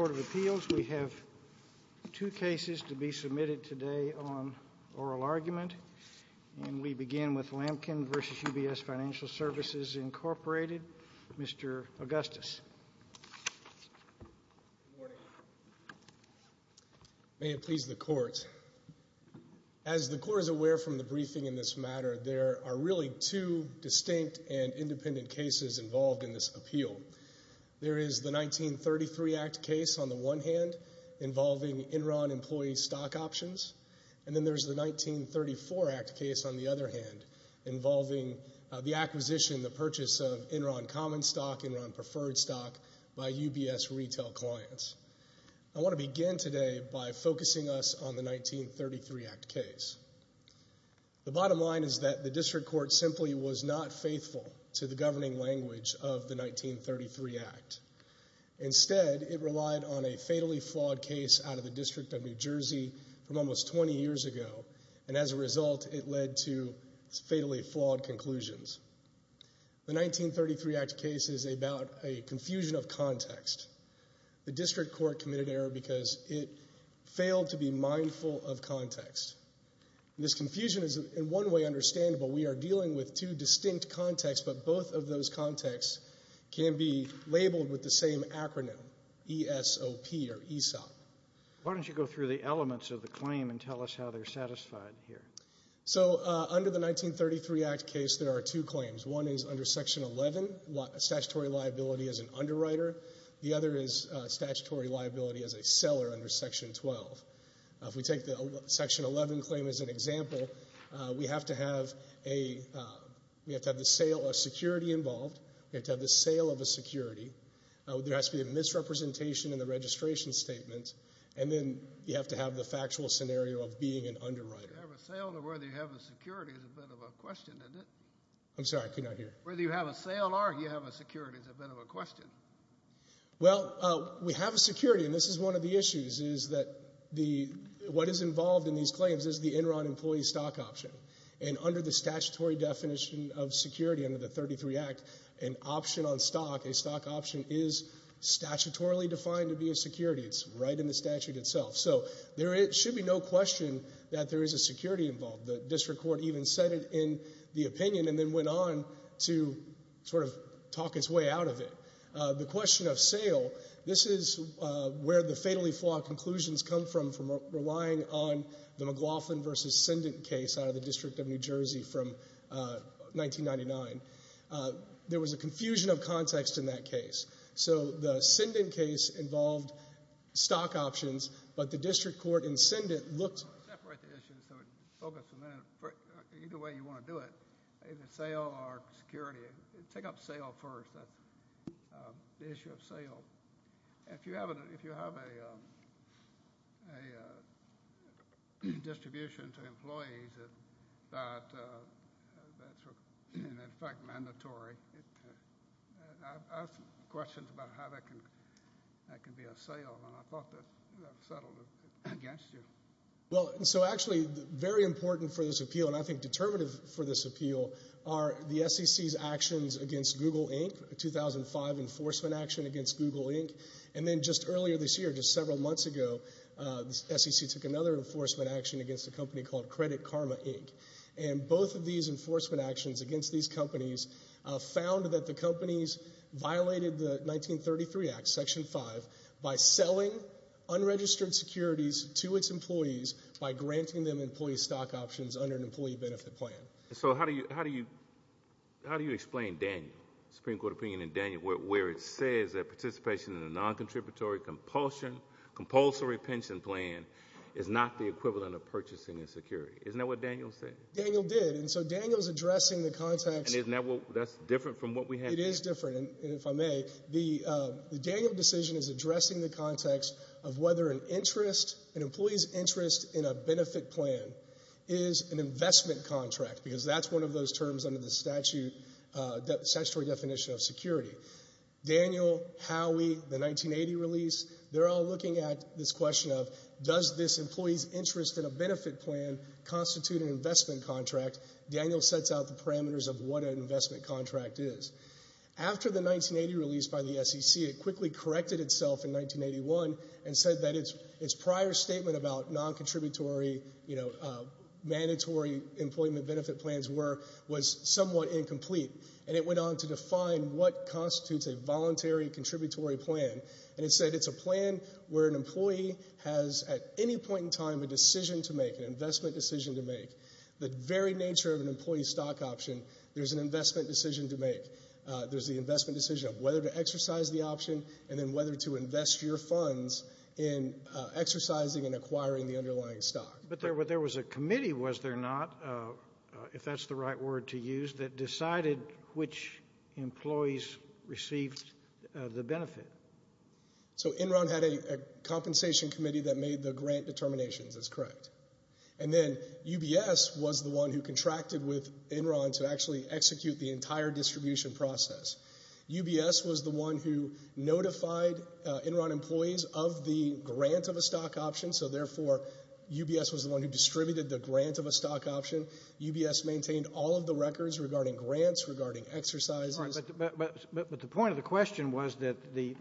Mr. Augustus, may it please the court. As the court is aware from the briefing in this matter, there are really two distinct and independent cases involved in this appeal. There is the 1933 Act case on the one hand involving Enron employee stock options, and then there's the 1934 Act case on the other hand involving the acquisition, the purchase of Enron common stock, Enron preferred stock by UBS retail clients. I want to begin today by focusing us on the 1933 Act case. The bottom line is that the district court simply was not faithful to the governing language of the 1933 Act. Instead, it relied on a fatally flawed case out of the District of New Jersey from almost 20 years ago, and as a result it led to fatally flawed conclusions. The 1933 Act case is about a confusion of context. The district court committed error because it failed to be mindful of context. This confusion is in one way understandable. We are dealing with two distinct contexts, but both of those contexts can be labeled with the same acronym, ESOP, or ESOP. Why don't you go through the elements of the claim and tell us how they're satisfied here? So under the 1933 Act case, there are two claims. One is under Section 11, statutory liability as an underwriter. The other is statutory liability as a seller under Section 12. If we take the Section 11 claim as an example, we have to have the sale of security involved. We have to have the sale of a security. There has to be a misrepresentation in the registration statement, and then you have to have the factual scenario of being an underwriter. Do you have a sale, or whether you have a security is a bit of a question, isn't it? I'm sorry, I could not hear. Whether you have a sale or you have a security is a bit of a question. Well, we have a security, and this is one of the issues, is that what is involved in these claims is the Enron employee stock option. And under the statutory definition of security under the 1933 Act, an option on stock, a stock option, is statutorily defined to be a security. It's right in the statute itself. So there should be no question that there is a security involved. The district court even said it in the opinion and then went on to sort of talk its way out of it. The question of sale, this is where the fatally flawed conclusions come from, from relying on the McLaughlin v. Sindent case out of the District of New Jersey from 1999. There was a confusion of context in that case. So the Sindent case involved stock options, but the district court in Sindent looked... Separate the issues so we can focus a minute. Either way you want to do it, either sale or security, take up sale first. That's the issue of sale. If you have a distribution to employees that's, in effect, mandatory, I've asked questions about how that can be a sale, and I thought that settled it against you. Well, so actually very important for this appeal, and I think determinative for this appeal, are the SEC's actions against Google Inc., 2005 enforcement action against Google Inc., and then just earlier this year, just several months ago, the SEC took another enforcement action against a company called Credit Karma Inc., and both of these enforcement actions against these companies found that the companies violated the 1933 Act, Section 5, by selling unregistered securities to its employees by granting them employee stock options under an employee benefit plan. So how do you explain Daniel, Supreme Court opinion in Daniel, where it says that participation in a non-contributory compulsory pension plan is not the equivalent of purchasing a security? Isn't that what Daniel said? Daniel did, and so Daniel's addressing the context... And isn't that different from what we had... ...of whether an interest, an employee's interest in a benefit plan is an investment contract, because that's one of those terms under the statutory definition of security. Daniel, Howey, the 1980 release, they're all looking at this question of, does this employee's interest in a benefit plan constitute an investment contract? Daniel sets out the parameters of what an investment contract is. After the 1980 release by the SEC, it quickly corrected itself in 1981 and said that its prior statement about non-contributory, you know, mandatory employment benefit plans were, was somewhat incomplete, and it went on to define what constitutes a voluntary contributory plan, and it said it's a plan where an employee has, at any point in time, a decision to make, an investment decision to make. The very nature of an employee's stock option, there's an investment decision to make. There's the investment decision of whether to exercise the option and then whether to invest your funds in exercising and acquiring the underlying stock. But there was a committee, was there not, if that's the right word to use, that decided which employees received the benefit? So Enron had a compensation committee that made the grant determinations, that's correct. And then UBS was the one who contracted with Enron to actually execute the entire distribution process. UBS was the one who notified Enron employees of the grant of a stock option, so therefore UBS was the one who distributed the grant of a stock option. UBS maintained all of the records regarding grants, regarding exercises. But the point of the question was that the,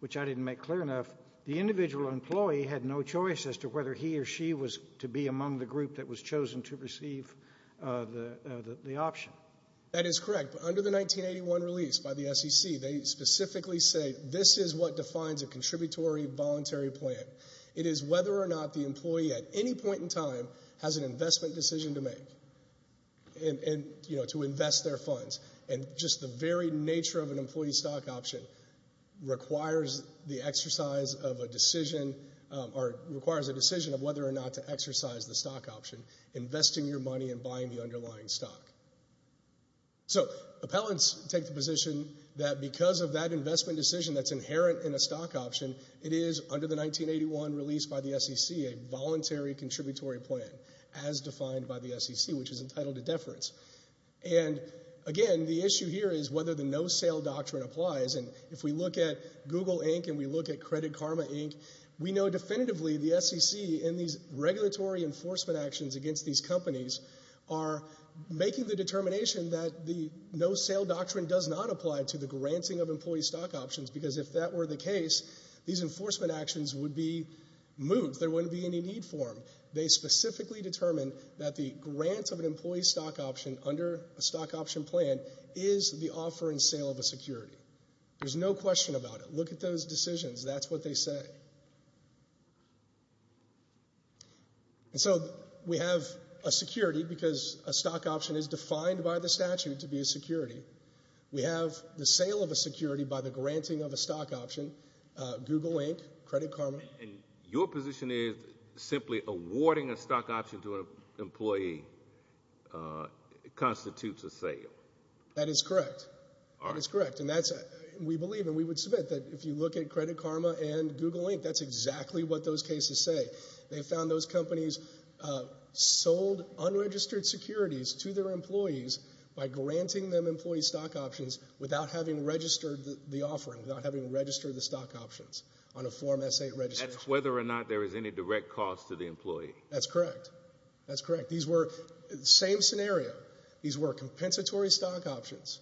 which I didn't make clear enough, the individual employee had no choice as to whether he or she was to be among the group that was chosen to receive the option. That is correct. But under the 1981 release by the SEC, they specifically say this is what defines a contributory voluntary plan. It is whether or not the employee, at any point in time, has an investment decision to make and, you know, to invest their funds. And just the very nature of an employee stock option requires the exercise of a decision, or requires a decision of whether or not to exercise the stock option, investing your money and buying the underlying stock. So appellants take the position that because of that investment decision that's inherent in a stock option, it is, under the 1981 release by the SEC, a voluntary contributory plan And, again, the issue here is whether the no-sale doctrine applies. And if we look at Google, Inc., and we look at Credit Karma, Inc., we know definitively the SEC and these regulatory enforcement actions against these companies are making the determination that the no-sale doctrine does not apply to the granting of employee stock options, because if that were the case, these enforcement actions would be moved. There wouldn't be any need for them. They specifically determine that the grant of an employee stock option under a stock option plan is the offer and sale of a security. There's no question about it. Look at those decisions. That's what they say. And so we have a security because a stock option is defined by the statute to be a security. We have the sale of a security by the granting of a stock option. Google, Inc., Credit Karma. And your position is simply awarding a stock option to an employee constitutes a sale. That is correct. That is correct. And that's, we believe, and we would submit that if you look at Credit Karma and Google, Inc., that's exactly what those cases say. They found those companies sold unregistered securities to their employees by granting them employee stock options without having registered the offering, without having registered the stock options on a Form S-8 registration. That's whether or not there is any direct cost to the employee. That's correct. That's correct. These were, same scenario, these were compensatory stock options.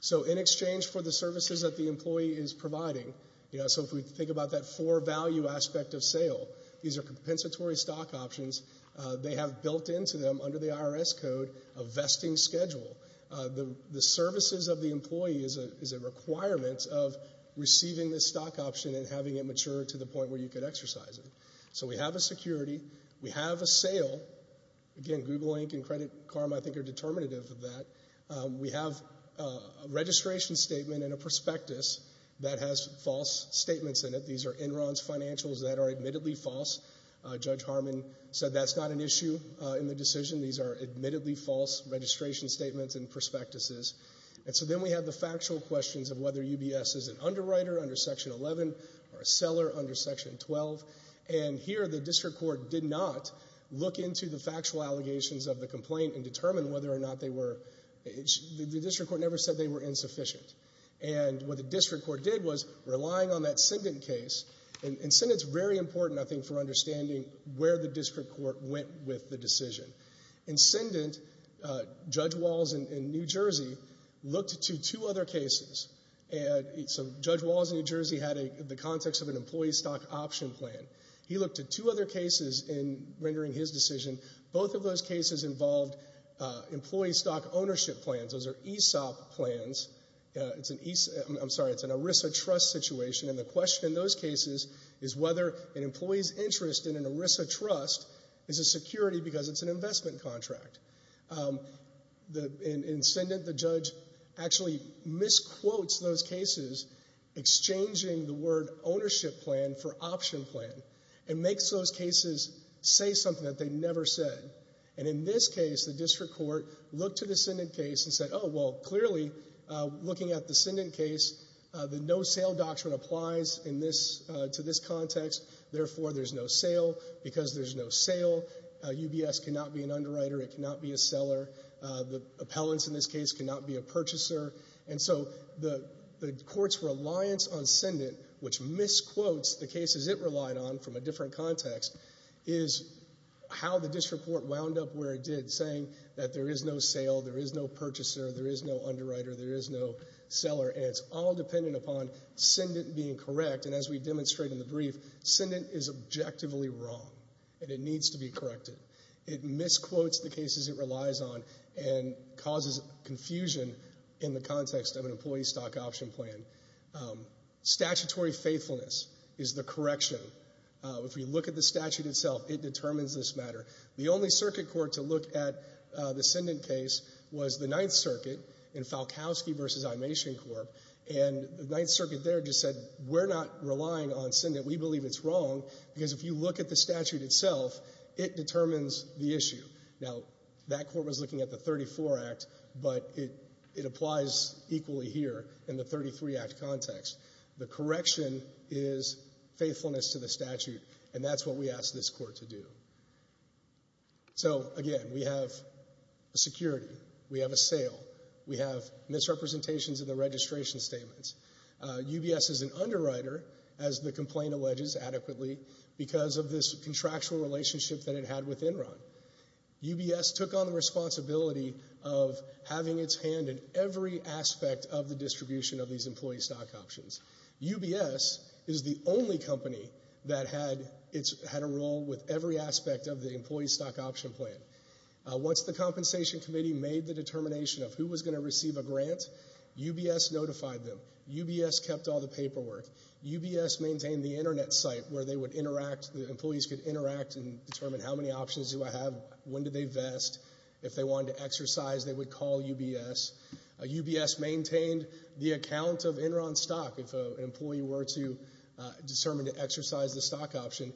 So in exchange for the services that the employee is providing, you know, so if we think about that for value aspect of sale, these are compensatory stock options. They have built into them under the IRS code a vesting schedule. The services of the employee is a requirement of receiving the stock option and having it mature to the point where you could exercise it. So we have a security. We have a sale. Again, Google, Inc. and Credit Karma, I think, are determinative of that. We have a registration statement and a prospectus that has false statements in it. These are Enron's financials that are admittedly false. Judge Harmon said that's not an issue in the decision. These are admittedly false registration statements and prospectuses. And so then we have the factual questions of whether UBS is an underwriter under Section 11 or a seller under Section 12. And here the district court did not look into the factual allegations of the complaint and determine whether or not they were, the district court never said they were insufficient. And what the district court did was, relying on that sentence case, and sentence is very important, I think, for understanding where the district court went with the decision. Incendent, Judge Walls in New Jersey, looked to two other cases. And so Judge Walls in New Jersey had the context of an employee stock option plan. He looked at two other cases in rendering his decision. Both of those cases involved employee stock ownership plans. Those are ESOP plans. It's an, I'm sorry, it's an ERISA trust situation. And the question in those cases is whether an employee's interest in an ERISA trust is a security because it's an investment contract. In Incendent, the judge actually misquotes those cases, exchanging the word ownership plan for option plan, and makes those cases say something that they never said. And in this case, the district court looked at Incendent case and said, oh, well, clearly, looking at the Incendent case, the no-sale doctrine applies in this, to this context. Therefore, there's no sale. Because there's no sale, UBS cannot be an underwriter. It cannot be a seller. The appellants in this case cannot be a purchaser. And so the court's reliance on Incendent, which misquotes the cases it relied on from a different context, is how the district court wound up where it did, saying that there is no sale, there is no purchaser, there is no underwriter, there is no seller. And it's all dependent upon Incendent being correct. And as we demonstrate in the brief, Incendent is objectively wrong, and it needs to be corrected. It misquotes the cases it relies on and causes confusion in the context of an employee stock option plan. Statutory faithfulness is the correction. If we look at the statute itself, it determines this matter. The only circuit court to look at the Incendent case was the Ninth Circuit in Falkowski v. Imation Corp. And the Ninth Circuit there just said, we're not relying on Incendent. We believe it's wrong, because if you look at the statute itself, it determines the issue. Now, that court was looking at the 34 Act, but it applies equally here in the 33 Act context. The correction is faithfulness to the statute, and that's what we asked this court to do. So again, we have a security. We have a sale. We have misrepresentations in the registration statements. UBS is an underwriter, as the complaint alleges adequately, because of this contractual relationship that it had with Enron. UBS took on the responsibility of having its hand in every aspect of the distribution of these employee stock options. UBS is the only company that had a role with every aspect of the employee stock option plan. Once the Compensation Committee made the determination of who was going to receive a grant, UBS notified them. UBS kept all the paperwork. UBS maintained the Internet site where they would interact, the employees could interact and determine how many options do I have, when do they vest, if they wanted to exercise, they would call UBS. UBS maintained the account of Enron stock. If an employee were to determine to exercise the stock option,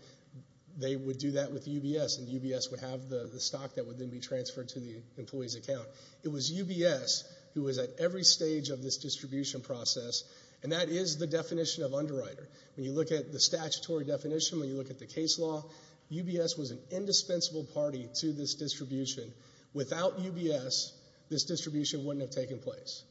they would do that with UBS, and UBS would have the stock that would then be transferred to the employee's account. It was UBS who was at every stage of this distribution process, and that is the definition of underwriter. When you look at the statutory definition, when you look at the case law, UBS was an indispensable party to this distribution. Without UBS, this distribution wouldn't have taken place,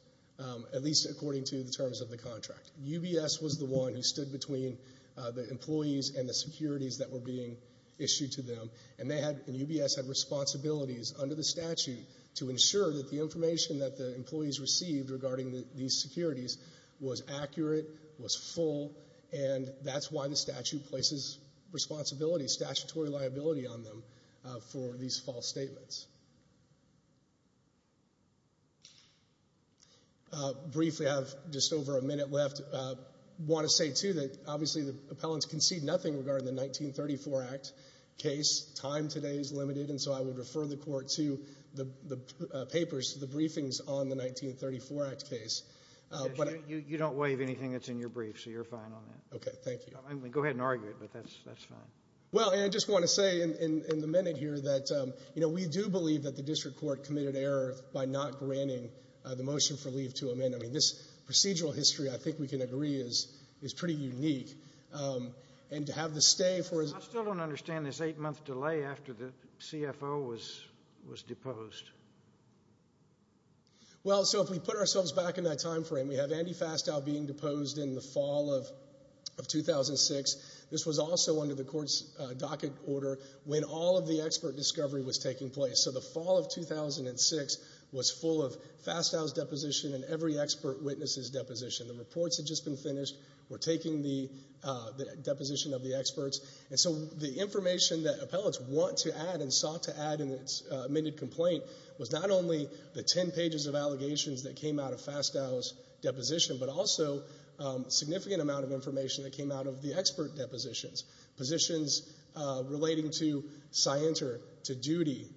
at least according to the terms of the contract. UBS was the one who stood between the employees and the securities that were being issued to them, and UBS had responsibilities under the statute to ensure that the information that the employees received regarding these securities was accurate, was full, and that's why the statute places responsibility, statutory liability on them for these false statements. Briefly, I have just over a minute left. I want to say, too, that obviously the appellants concede nothing regarding the 1934 Act case. Time today is limited, and so I would refer the Court to the papers, the briefings on the 1934 Act case. You don't waive anything that's in your brief, so you're fine on that. Okay, thank you. Go ahead and argue it, but that's fine. Well, and I just want to say in the minute here that, you know, we do believe that the District Court committed error by not granting the motion for leave to amend. I mean, this procedural history, I think we can agree, is pretty unique, and to have the stay for... I still don't understand this eight-month delay after the CFO was deposed. Well, so if we put ourselves back in that time frame, we have Andy Fastow being deposed in the fall of 2006. This was also under the Court's docket order when all of the expert discovery was taking place. So the fall of 2006 was full of Fastow's deposition and every expert witness's deposition. The reports had just been finished. We're taking the deposition of the experts, and so the information that appellants want to add and sought to add in its amended complaint was not only the ten pages of allegations that came out of Fastow's deposition, but also a significant amount of information that came out of the expert depositions, positions relating to scienter, to duty.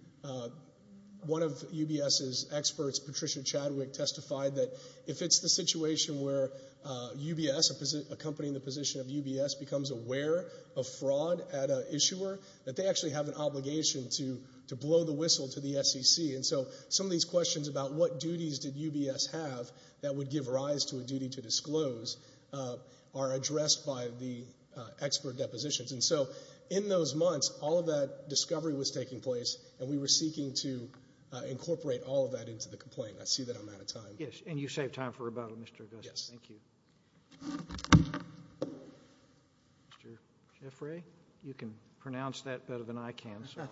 One of UBS's experts, Patricia Chadwick, testified that if it's the situation where UBS, a company in the position of UBS, becomes aware of fraud at an issuer, that they actually have an obligation to blow the whistle to the SEC. And so some of these questions about what duties did UBS have that would give rise to a duty to disclose are addressed by the expert depositions. And so in those months, all of that discovery was taking place, and we were seeking to incorporate all of that into the complaint. I see that I'm out of time. Yes, and you saved time for rebuttal, Mr. Augusto. Yes. Thank you. Mr. Jeffrey, you can pronounce that better than I can, so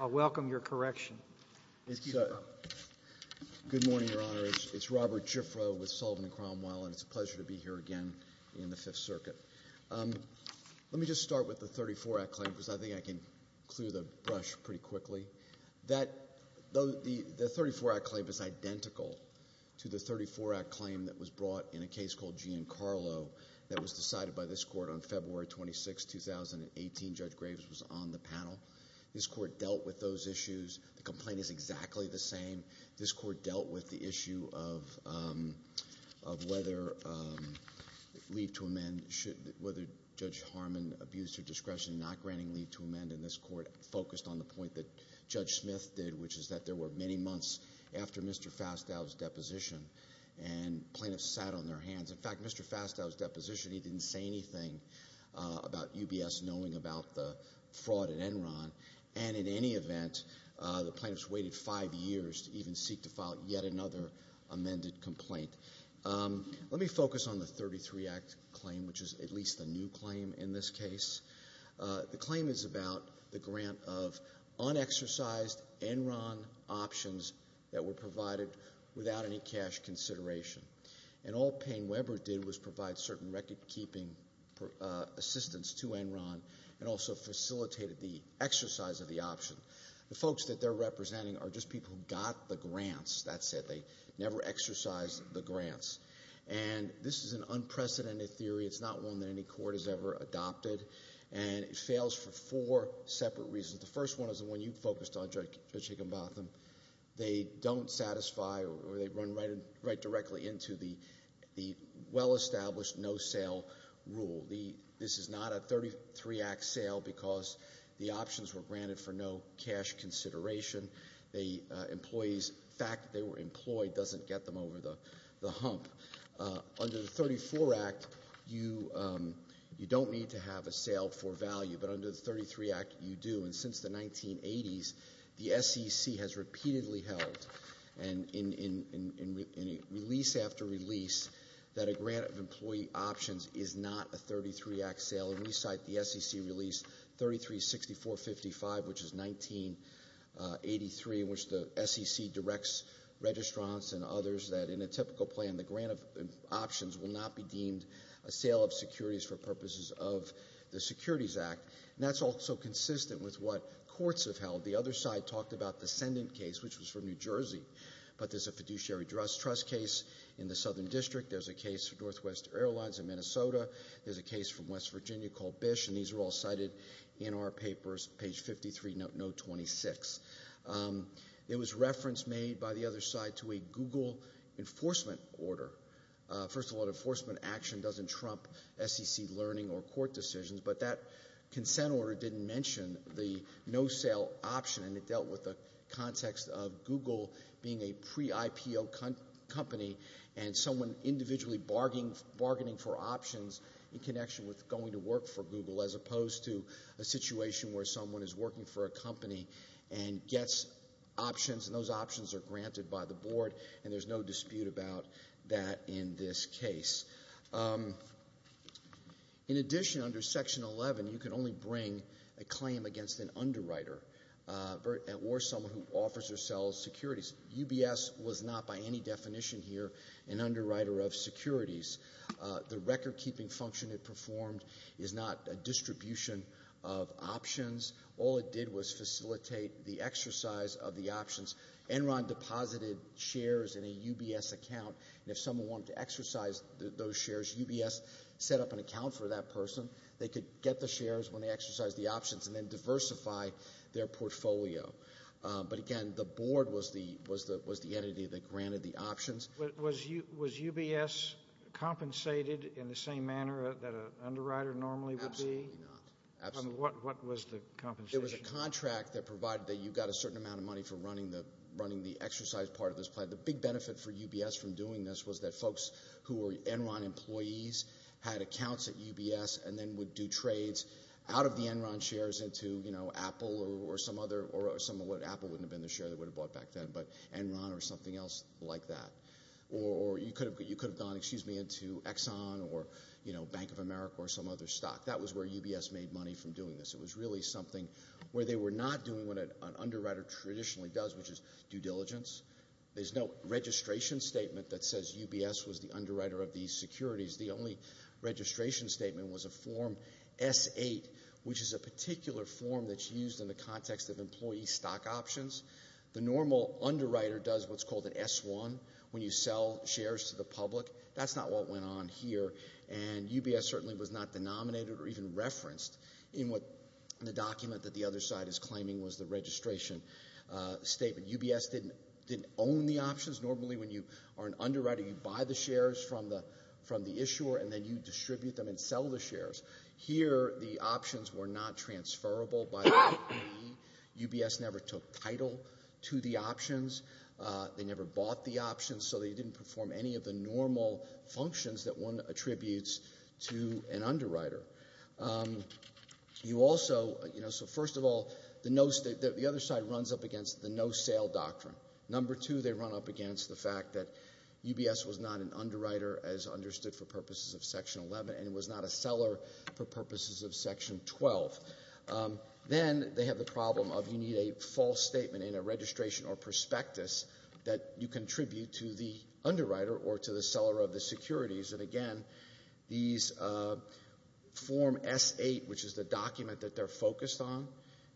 I'll welcome your correction. Good morning, Your Honor. It's Robert Jiffreau with Sullivan and Cromwell, and it's a pleasure to be here again in the Fifth Circuit. Let me just start with the 34-Act claim, because I think I can clear the brush pretty quickly. The 34-Act claim is identical to the 34-Act claim that was brought in a case called Giancarlo that was decided by this Court on February 26, 2018. Judge Graves was on the panel. This Court dealt with those issues. The complaint is exactly the same. This Court dealt with the issue of whether leave to amend, whether Judge Harmon abused her discretion in not granting leave to amend, and this Court focused on the point that Judge Smith did, which is that there were many months after Mr. Fastow's deposition, and plaintiffs sat on their hands. In fact, Mr. Fastow's deposition, he didn't say anything about UBS knowing about the fraud in Enron, and in any event, the plaintiffs waited five years to even seek to file yet another amended complaint. Let me focus on the 33-Act claim, which is at least a new claim in this case. The claim is about the grant of unexercised Enron options that were provided without any cash consideration, and all Payne-Webber did was provide certain recordkeeping assistance to Enron and also facilitated the exercise of the option. The folks that they're representing are just people who got the grants. That's it. They never exercised the grants, and this is an unprecedented theory. It's not one that any court has ever adopted, and it fails for four separate reasons. The first one is the one you focused on, Judge Higginbotham. They don't satisfy or they run right directly into the well-established no-sale rule. This is not a 33-Act sale because the options were granted for no cash consideration. The employees' fact that they were employed doesn't get them over the hump. Under the 34-Act, you don't need to have a sale for value, but under the 33-Act, you do. And since the 1980s, the SEC has repeatedly held, and in release after release, that a grant of 33-Act sale, and we cite the SEC release 336455, which is 1983, in which the SEC directs registrants and others that in a typical plan, the grant of options will not be deemed a sale of securities for purposes of the Securities Act. And that's also consistent with what courts have held. The other side talked about the Sendint case, which was from New Jersey, but there's a fiduciary trust case in the Southern District. There's a case for Northwest Airlines in Minnesota. There's a case from West Virginia called Bish, and these are all cited in our papers, page 53, note 26. It was reference made by the other side to a Google enforcement order. First of all, an enforcement action doesn't trump SEC learning or court decisions, but that consent order didn't mention the no-sale option, and it dealt with the context of Google being a pre-IPO company and someone individually bargaining for options in connection with going to work for Google as opposed to a situation where someone is working for a company and gets options, and those options are granted by the board, and there's no dispute about that in this case. In addition, under Section 11, you can only bring a claim against an underwriter or someone who offers or sells securities. UBS was not by any definition here an underwriter of securities. The record-keeping function it performed is not a distribution of options. All it did was facilitate the exercise of the options. Enron deposited shares in a UBS account, and if someone wanted to exercise those shares, UBS set up an account for that person. They could get the shares when they exercised the options and then diversify their portfolio. But again, the board was the entity that granted the options. Was UBS compensated in the same manner that an underwriter normally would be? Absolutely not. What was the compensation? It was a contract that provided that you got a certain amount of money for running the exercise part of this plan. The big benefit for UBS from doing this was that folks who were Enron employees had accounts at UBS and then would do trades out of the Enron shares into, you know, Apple or some other or some other, Apple wouldn't have been the share they would have bought back then, but Enron or something else like that. Or you could have gone, excuse me, into Exxon or, you know, Bank of America or some other stock. That was where UBS made money from doing this. It was really something where they were not doing what an underwriter traditionally does, which is due diligence. There's no registration statement that says UBS was the underwriter of these securities. The only registration statement was a Form S-8, which is a particular form that's used in the context of employee stock options. The normal underwriter does what's called an S-1 when you sell shares to the public. That's not what went on here, and UBS certainly was not denominated or even referenced in the document that the other side is claiming was the registration statement. UBS didn't own the options. Normally, when you are an underwriter, you buy the shares from the issuer, and then you distribute them and sell the shares. Here, the options were not transferrable by the OPE. UBS never took title to the options. They never bought the options, so they didn't perform any of the normal functions that one attributes to an underwriter. You also, you know, so first of all, the other side runs up against the no-sale doctrine. Number two, they run up against the fact that UBS was not an underwriter, as understood for purposes of Section 11, and it was not a seller for purposes of Section 12. Then they have the problem of you need a false statement in a registration or prospectus that you contribute to the underwriter or to the seller of the securities. And again, these Form S-8, which is the document that they're focused on,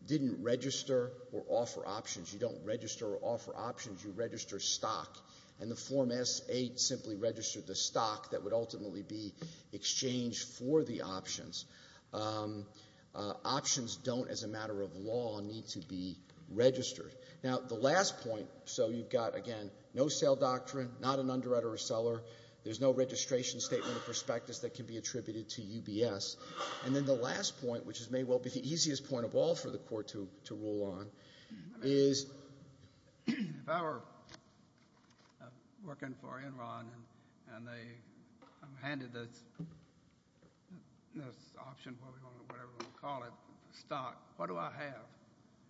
didn't register or offer options. You don't register or offer options. You register stock, and the Form S-8 simply registered the stock that would ultimately be exchanged for the options. Options don't, as a matter of law, need to be registered. Now, the last point, so you've got, again, no-sale doctrine, not an underwriter or seller. There's no registration statement or prospectus that can be attributed to UBS. And then the last point, which may well be the easiest point of all for the Court to rule on, is if I were working for Enron and they handed this option, whatever you want to call it, stock, what do I have?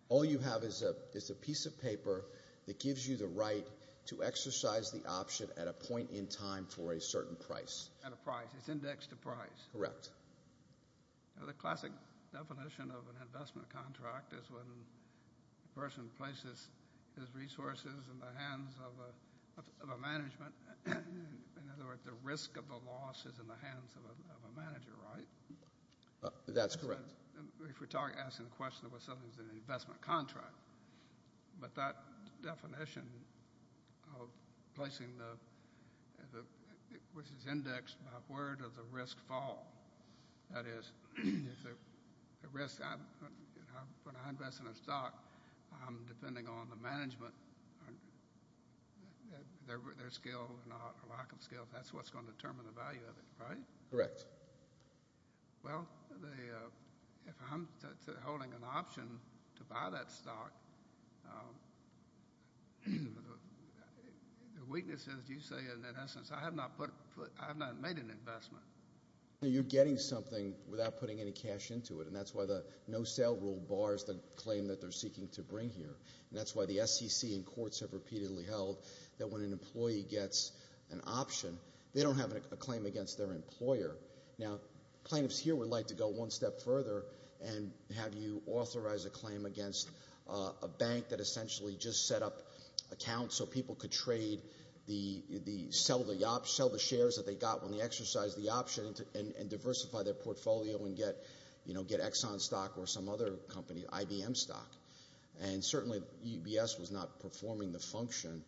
All you have is a piece of paper that gives you the right to exercise the option at a point in time for a certain price. At a price. It's indexed to price. Correct. The classic definition of an investment contract is when a person places his resources in the hands of a management. In other words, the risk of the loss is in the hands of a manager, right? That's correct. If we're asking the question of whether something's an investment contract, but that definition of placing the—which is indexed by where does the risk fall? That is, the risk—when I invest in a stock, depending on the management, their skill or lack of skill, that's what's going to determine the value of it, right? Correct. Well, if I'm holding an option to buy that stock, the weakness is, you say, in essence, I have not made an investment. You're getting something without putting any cash into it, and that's why the no-sale rule bars the claim that they're seeking to bring here, and that's why the SEC and courts have repeatedly held that when an employee gets an option, they don't have a claim against their employer. Now, plaintiffs here would like to go one step further and have you authorize a claim against a bank that essentially just set up accounts so people could sell the shares that they got when they exercised the option and diversify their portfolio and get Exxon stock or some other company, IBM stock. And certainly, EBS was not performing the function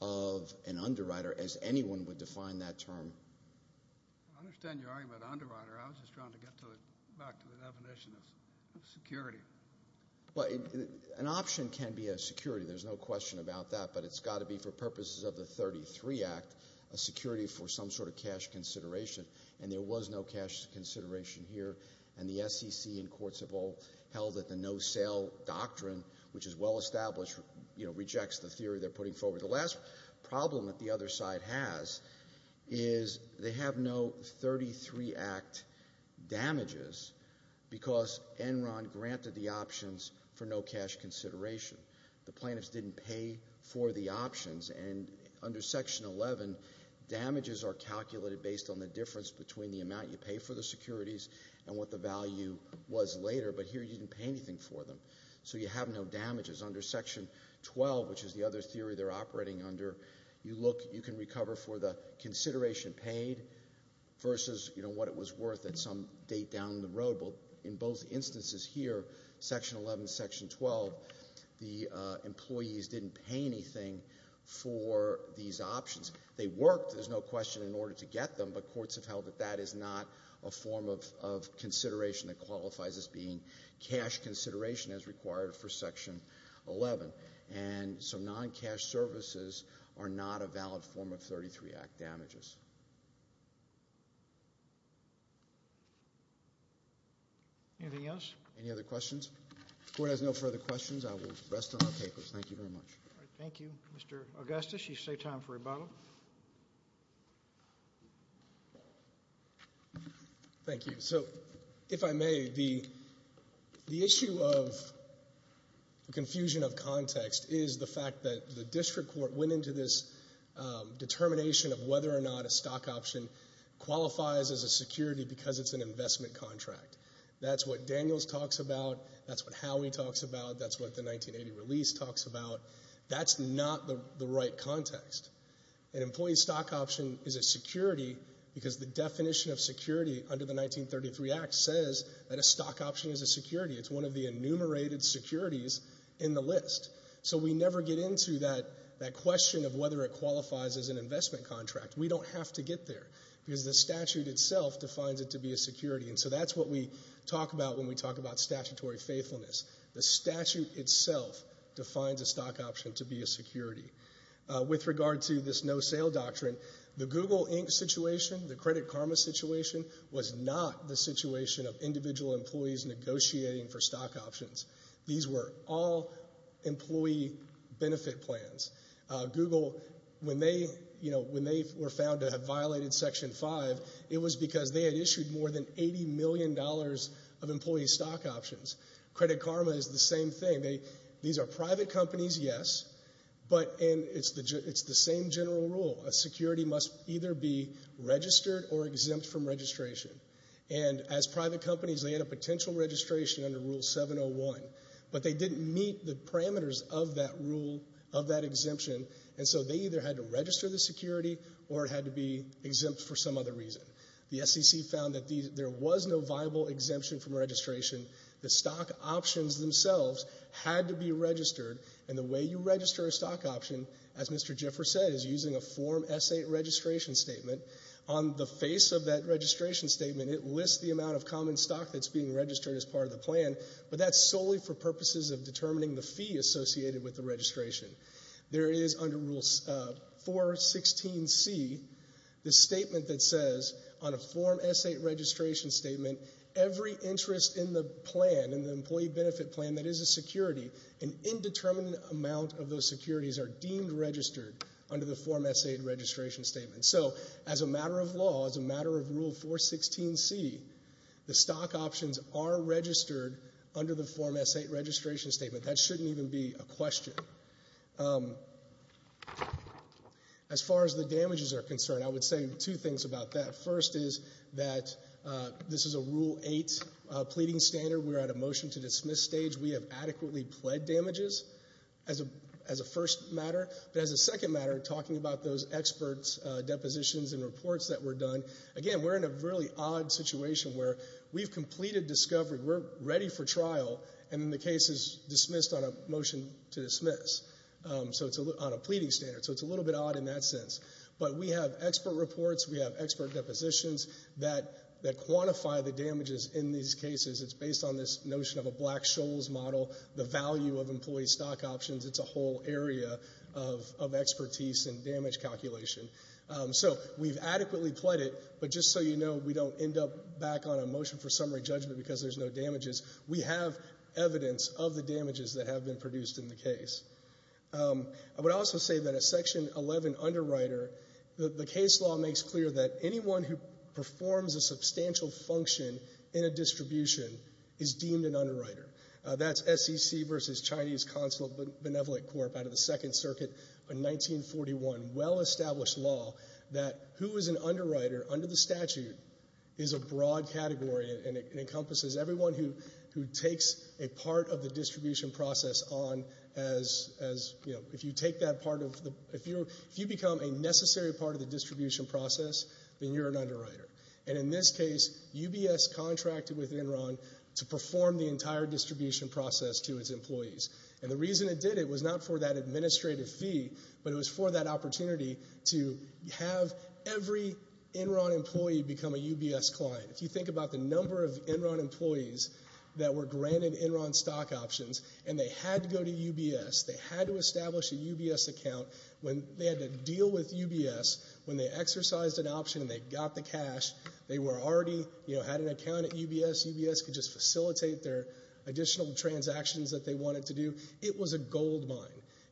of an underwriter, as anyone would define that term. I understand your argument, underwriter. I was just trying to get back to the definition of security. An option can be a security. There's no question about that, but it's got to be, for purposes of the 33 Act, a security for some sort of cash consideration, and there was no cash consideration here, and the SEC and courts have all held that the no-sale doctrine, which is well-established, rejects the theory they're putting forward. The last problem that the other side has is they have no 33 Act damages because Enron granted the options for no cash consideration. The plaintiffs didn't pay for the options, and under Section 11, damages are calculated based on the difference between the amount you pay for the securities and what the value was later, but here you didn't pay anything for them, so you have no damages. Under Section 12, which is the other theory they're operating under, you can recover for the consideration paid versus what it was worth at some date down the road. In both instances here, Section 11, Section 12, the employees didn't pay anything for these options. They worked, there's no question, in order to get them, but courts have held that that is not a form of consideration that qualifies as being cash consideration as required for Section 11, and so non-cash services are not a valid form of 33 Act damages. Anything else? Any other questions? If the Court has no further questions, I will rest on our papers. Thank you very much. Thank you. Mr. Augustus, you've saved time for rebuttal. Thank you. So if I may, the issue of confusion of context is the fact that the district court went into this determination of whether or not a stock option qualifies as a security because it's an investment contract. That's what Daniels talks about. That's what Howey talks about. That's what the 1980 release talks about. That's not the right context. An employee stock option is a security because the definition of security under the 1933 Act says that a stock option is a security. It's one of the enumerated securities in the list. So we never get into that question of whether it qualifies as an investment contract. We don't have to get there because the statute itself defines it to be a security, and so that's what we talk about when we talk about statutory faithfulness. The statute itself defines a stock option to be a security. With regard to this no-sale doctrine, the Google Inc. situation, the Credit Karma situation, was not the situation of individual employees negotiating for stock options. These were all employee benefit plans. Google, when they were found to have violated Section 5, it was because they had issued more than $80 million of employee stock options. Credit Karma is the same thing. These are private companies, yes, but it's the same general rule. A security must either be registered or exempt from registration, and as private companies they had a potential registration under Rule 701, but they didn't meet the parameters of that rule, of that exemption, and so they either had to register the security or it had to be exempt for some other reason. The SEC found that there was no viable exemption from registration. The stock options themselves had to be registered, and the way you register a stock option, as Mr. Gifford said, is using a Form S. 8 registration statement. On the face of that registration statement, it lists the amount of common stock that's being registered as part of the plan, but that's solely for purposes of determining the fee associated with the registration. There is under Rule 416C the statement that says on a Form S. 8 registration statement every interest in the plan, in the employee benefit plan that is a security, an indeterminate amount of those securities are deemed registered under the Form S. 8 registration statement. So as a matter of law, as a matter of Rule 416C, the stock options are registered under the Form S. 8 registration statement. That shouldn't even be a question. As far as the damages are concerned, I would say two things about that. First is that this is a Rule 8 pleading standard. We're at a motion-to-dismiss stage. We have adequately pled damages as a first matter. But as a second matter, talking about those experts' depositions and reports that were done, again, we're in a really odd situation where we've completed discovery. We're ready for trial, and then the case is dismissed on a motion to dismiss. So it's on a pleading standard. So it's a little bit odd in that sense. But we have expert reports. We have expert depositions that quantify the damages in these cases. It's based on this notion of a Black-Scholes model, the value of employee stock options. It's a whole area of expertise and damage calculation. So we've adequately pled it, but just so you know, we don't end up back on a motion for summary judgment because there's no damages. We have evidence of the damages that have been produced in the case. I would also say that a Section 11 underwriter, the case law makes clear that anyone who performs a substantial function in a distribution is deemed an underwriter. That's SEC v. Chinese Consulate Benevolent Corp. out of the Second Circuit in 1941, well-established law, that who is an underwriter under the statute is a broad category, and it encompasses everyone who takes a part of the distribution process on as, you know, if you take that part of the, if you become a necessary part of the distribution process, then you're an underwriter. And in this case, UBS contracted with Enron to perform the entire distribution process to its employees. And the reason it did it was not for that administrative fee, but it was for that opportunity to have every Enron employee become a UBS client. If you think about the number of Enron employees that were granted Enron stock options, and they had to go to UBS, they had to establish a UBS account. When they had to deal with UBS, when they exercised an option and they got the cash, they were already, you know, had an account at UBS. UBS could just facilitate their additional transactions that they wanted to do. It was a gold mine.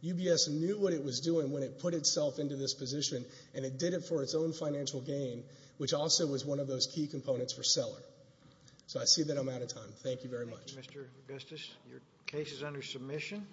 UBS knew what it was doing when it put itself into this position, and it did it for its own financial gain, which also was one of those key components for seller. So I see that I'm out of time. Thank you very much. Thank you, Mr. Augustus. Your case is under submission.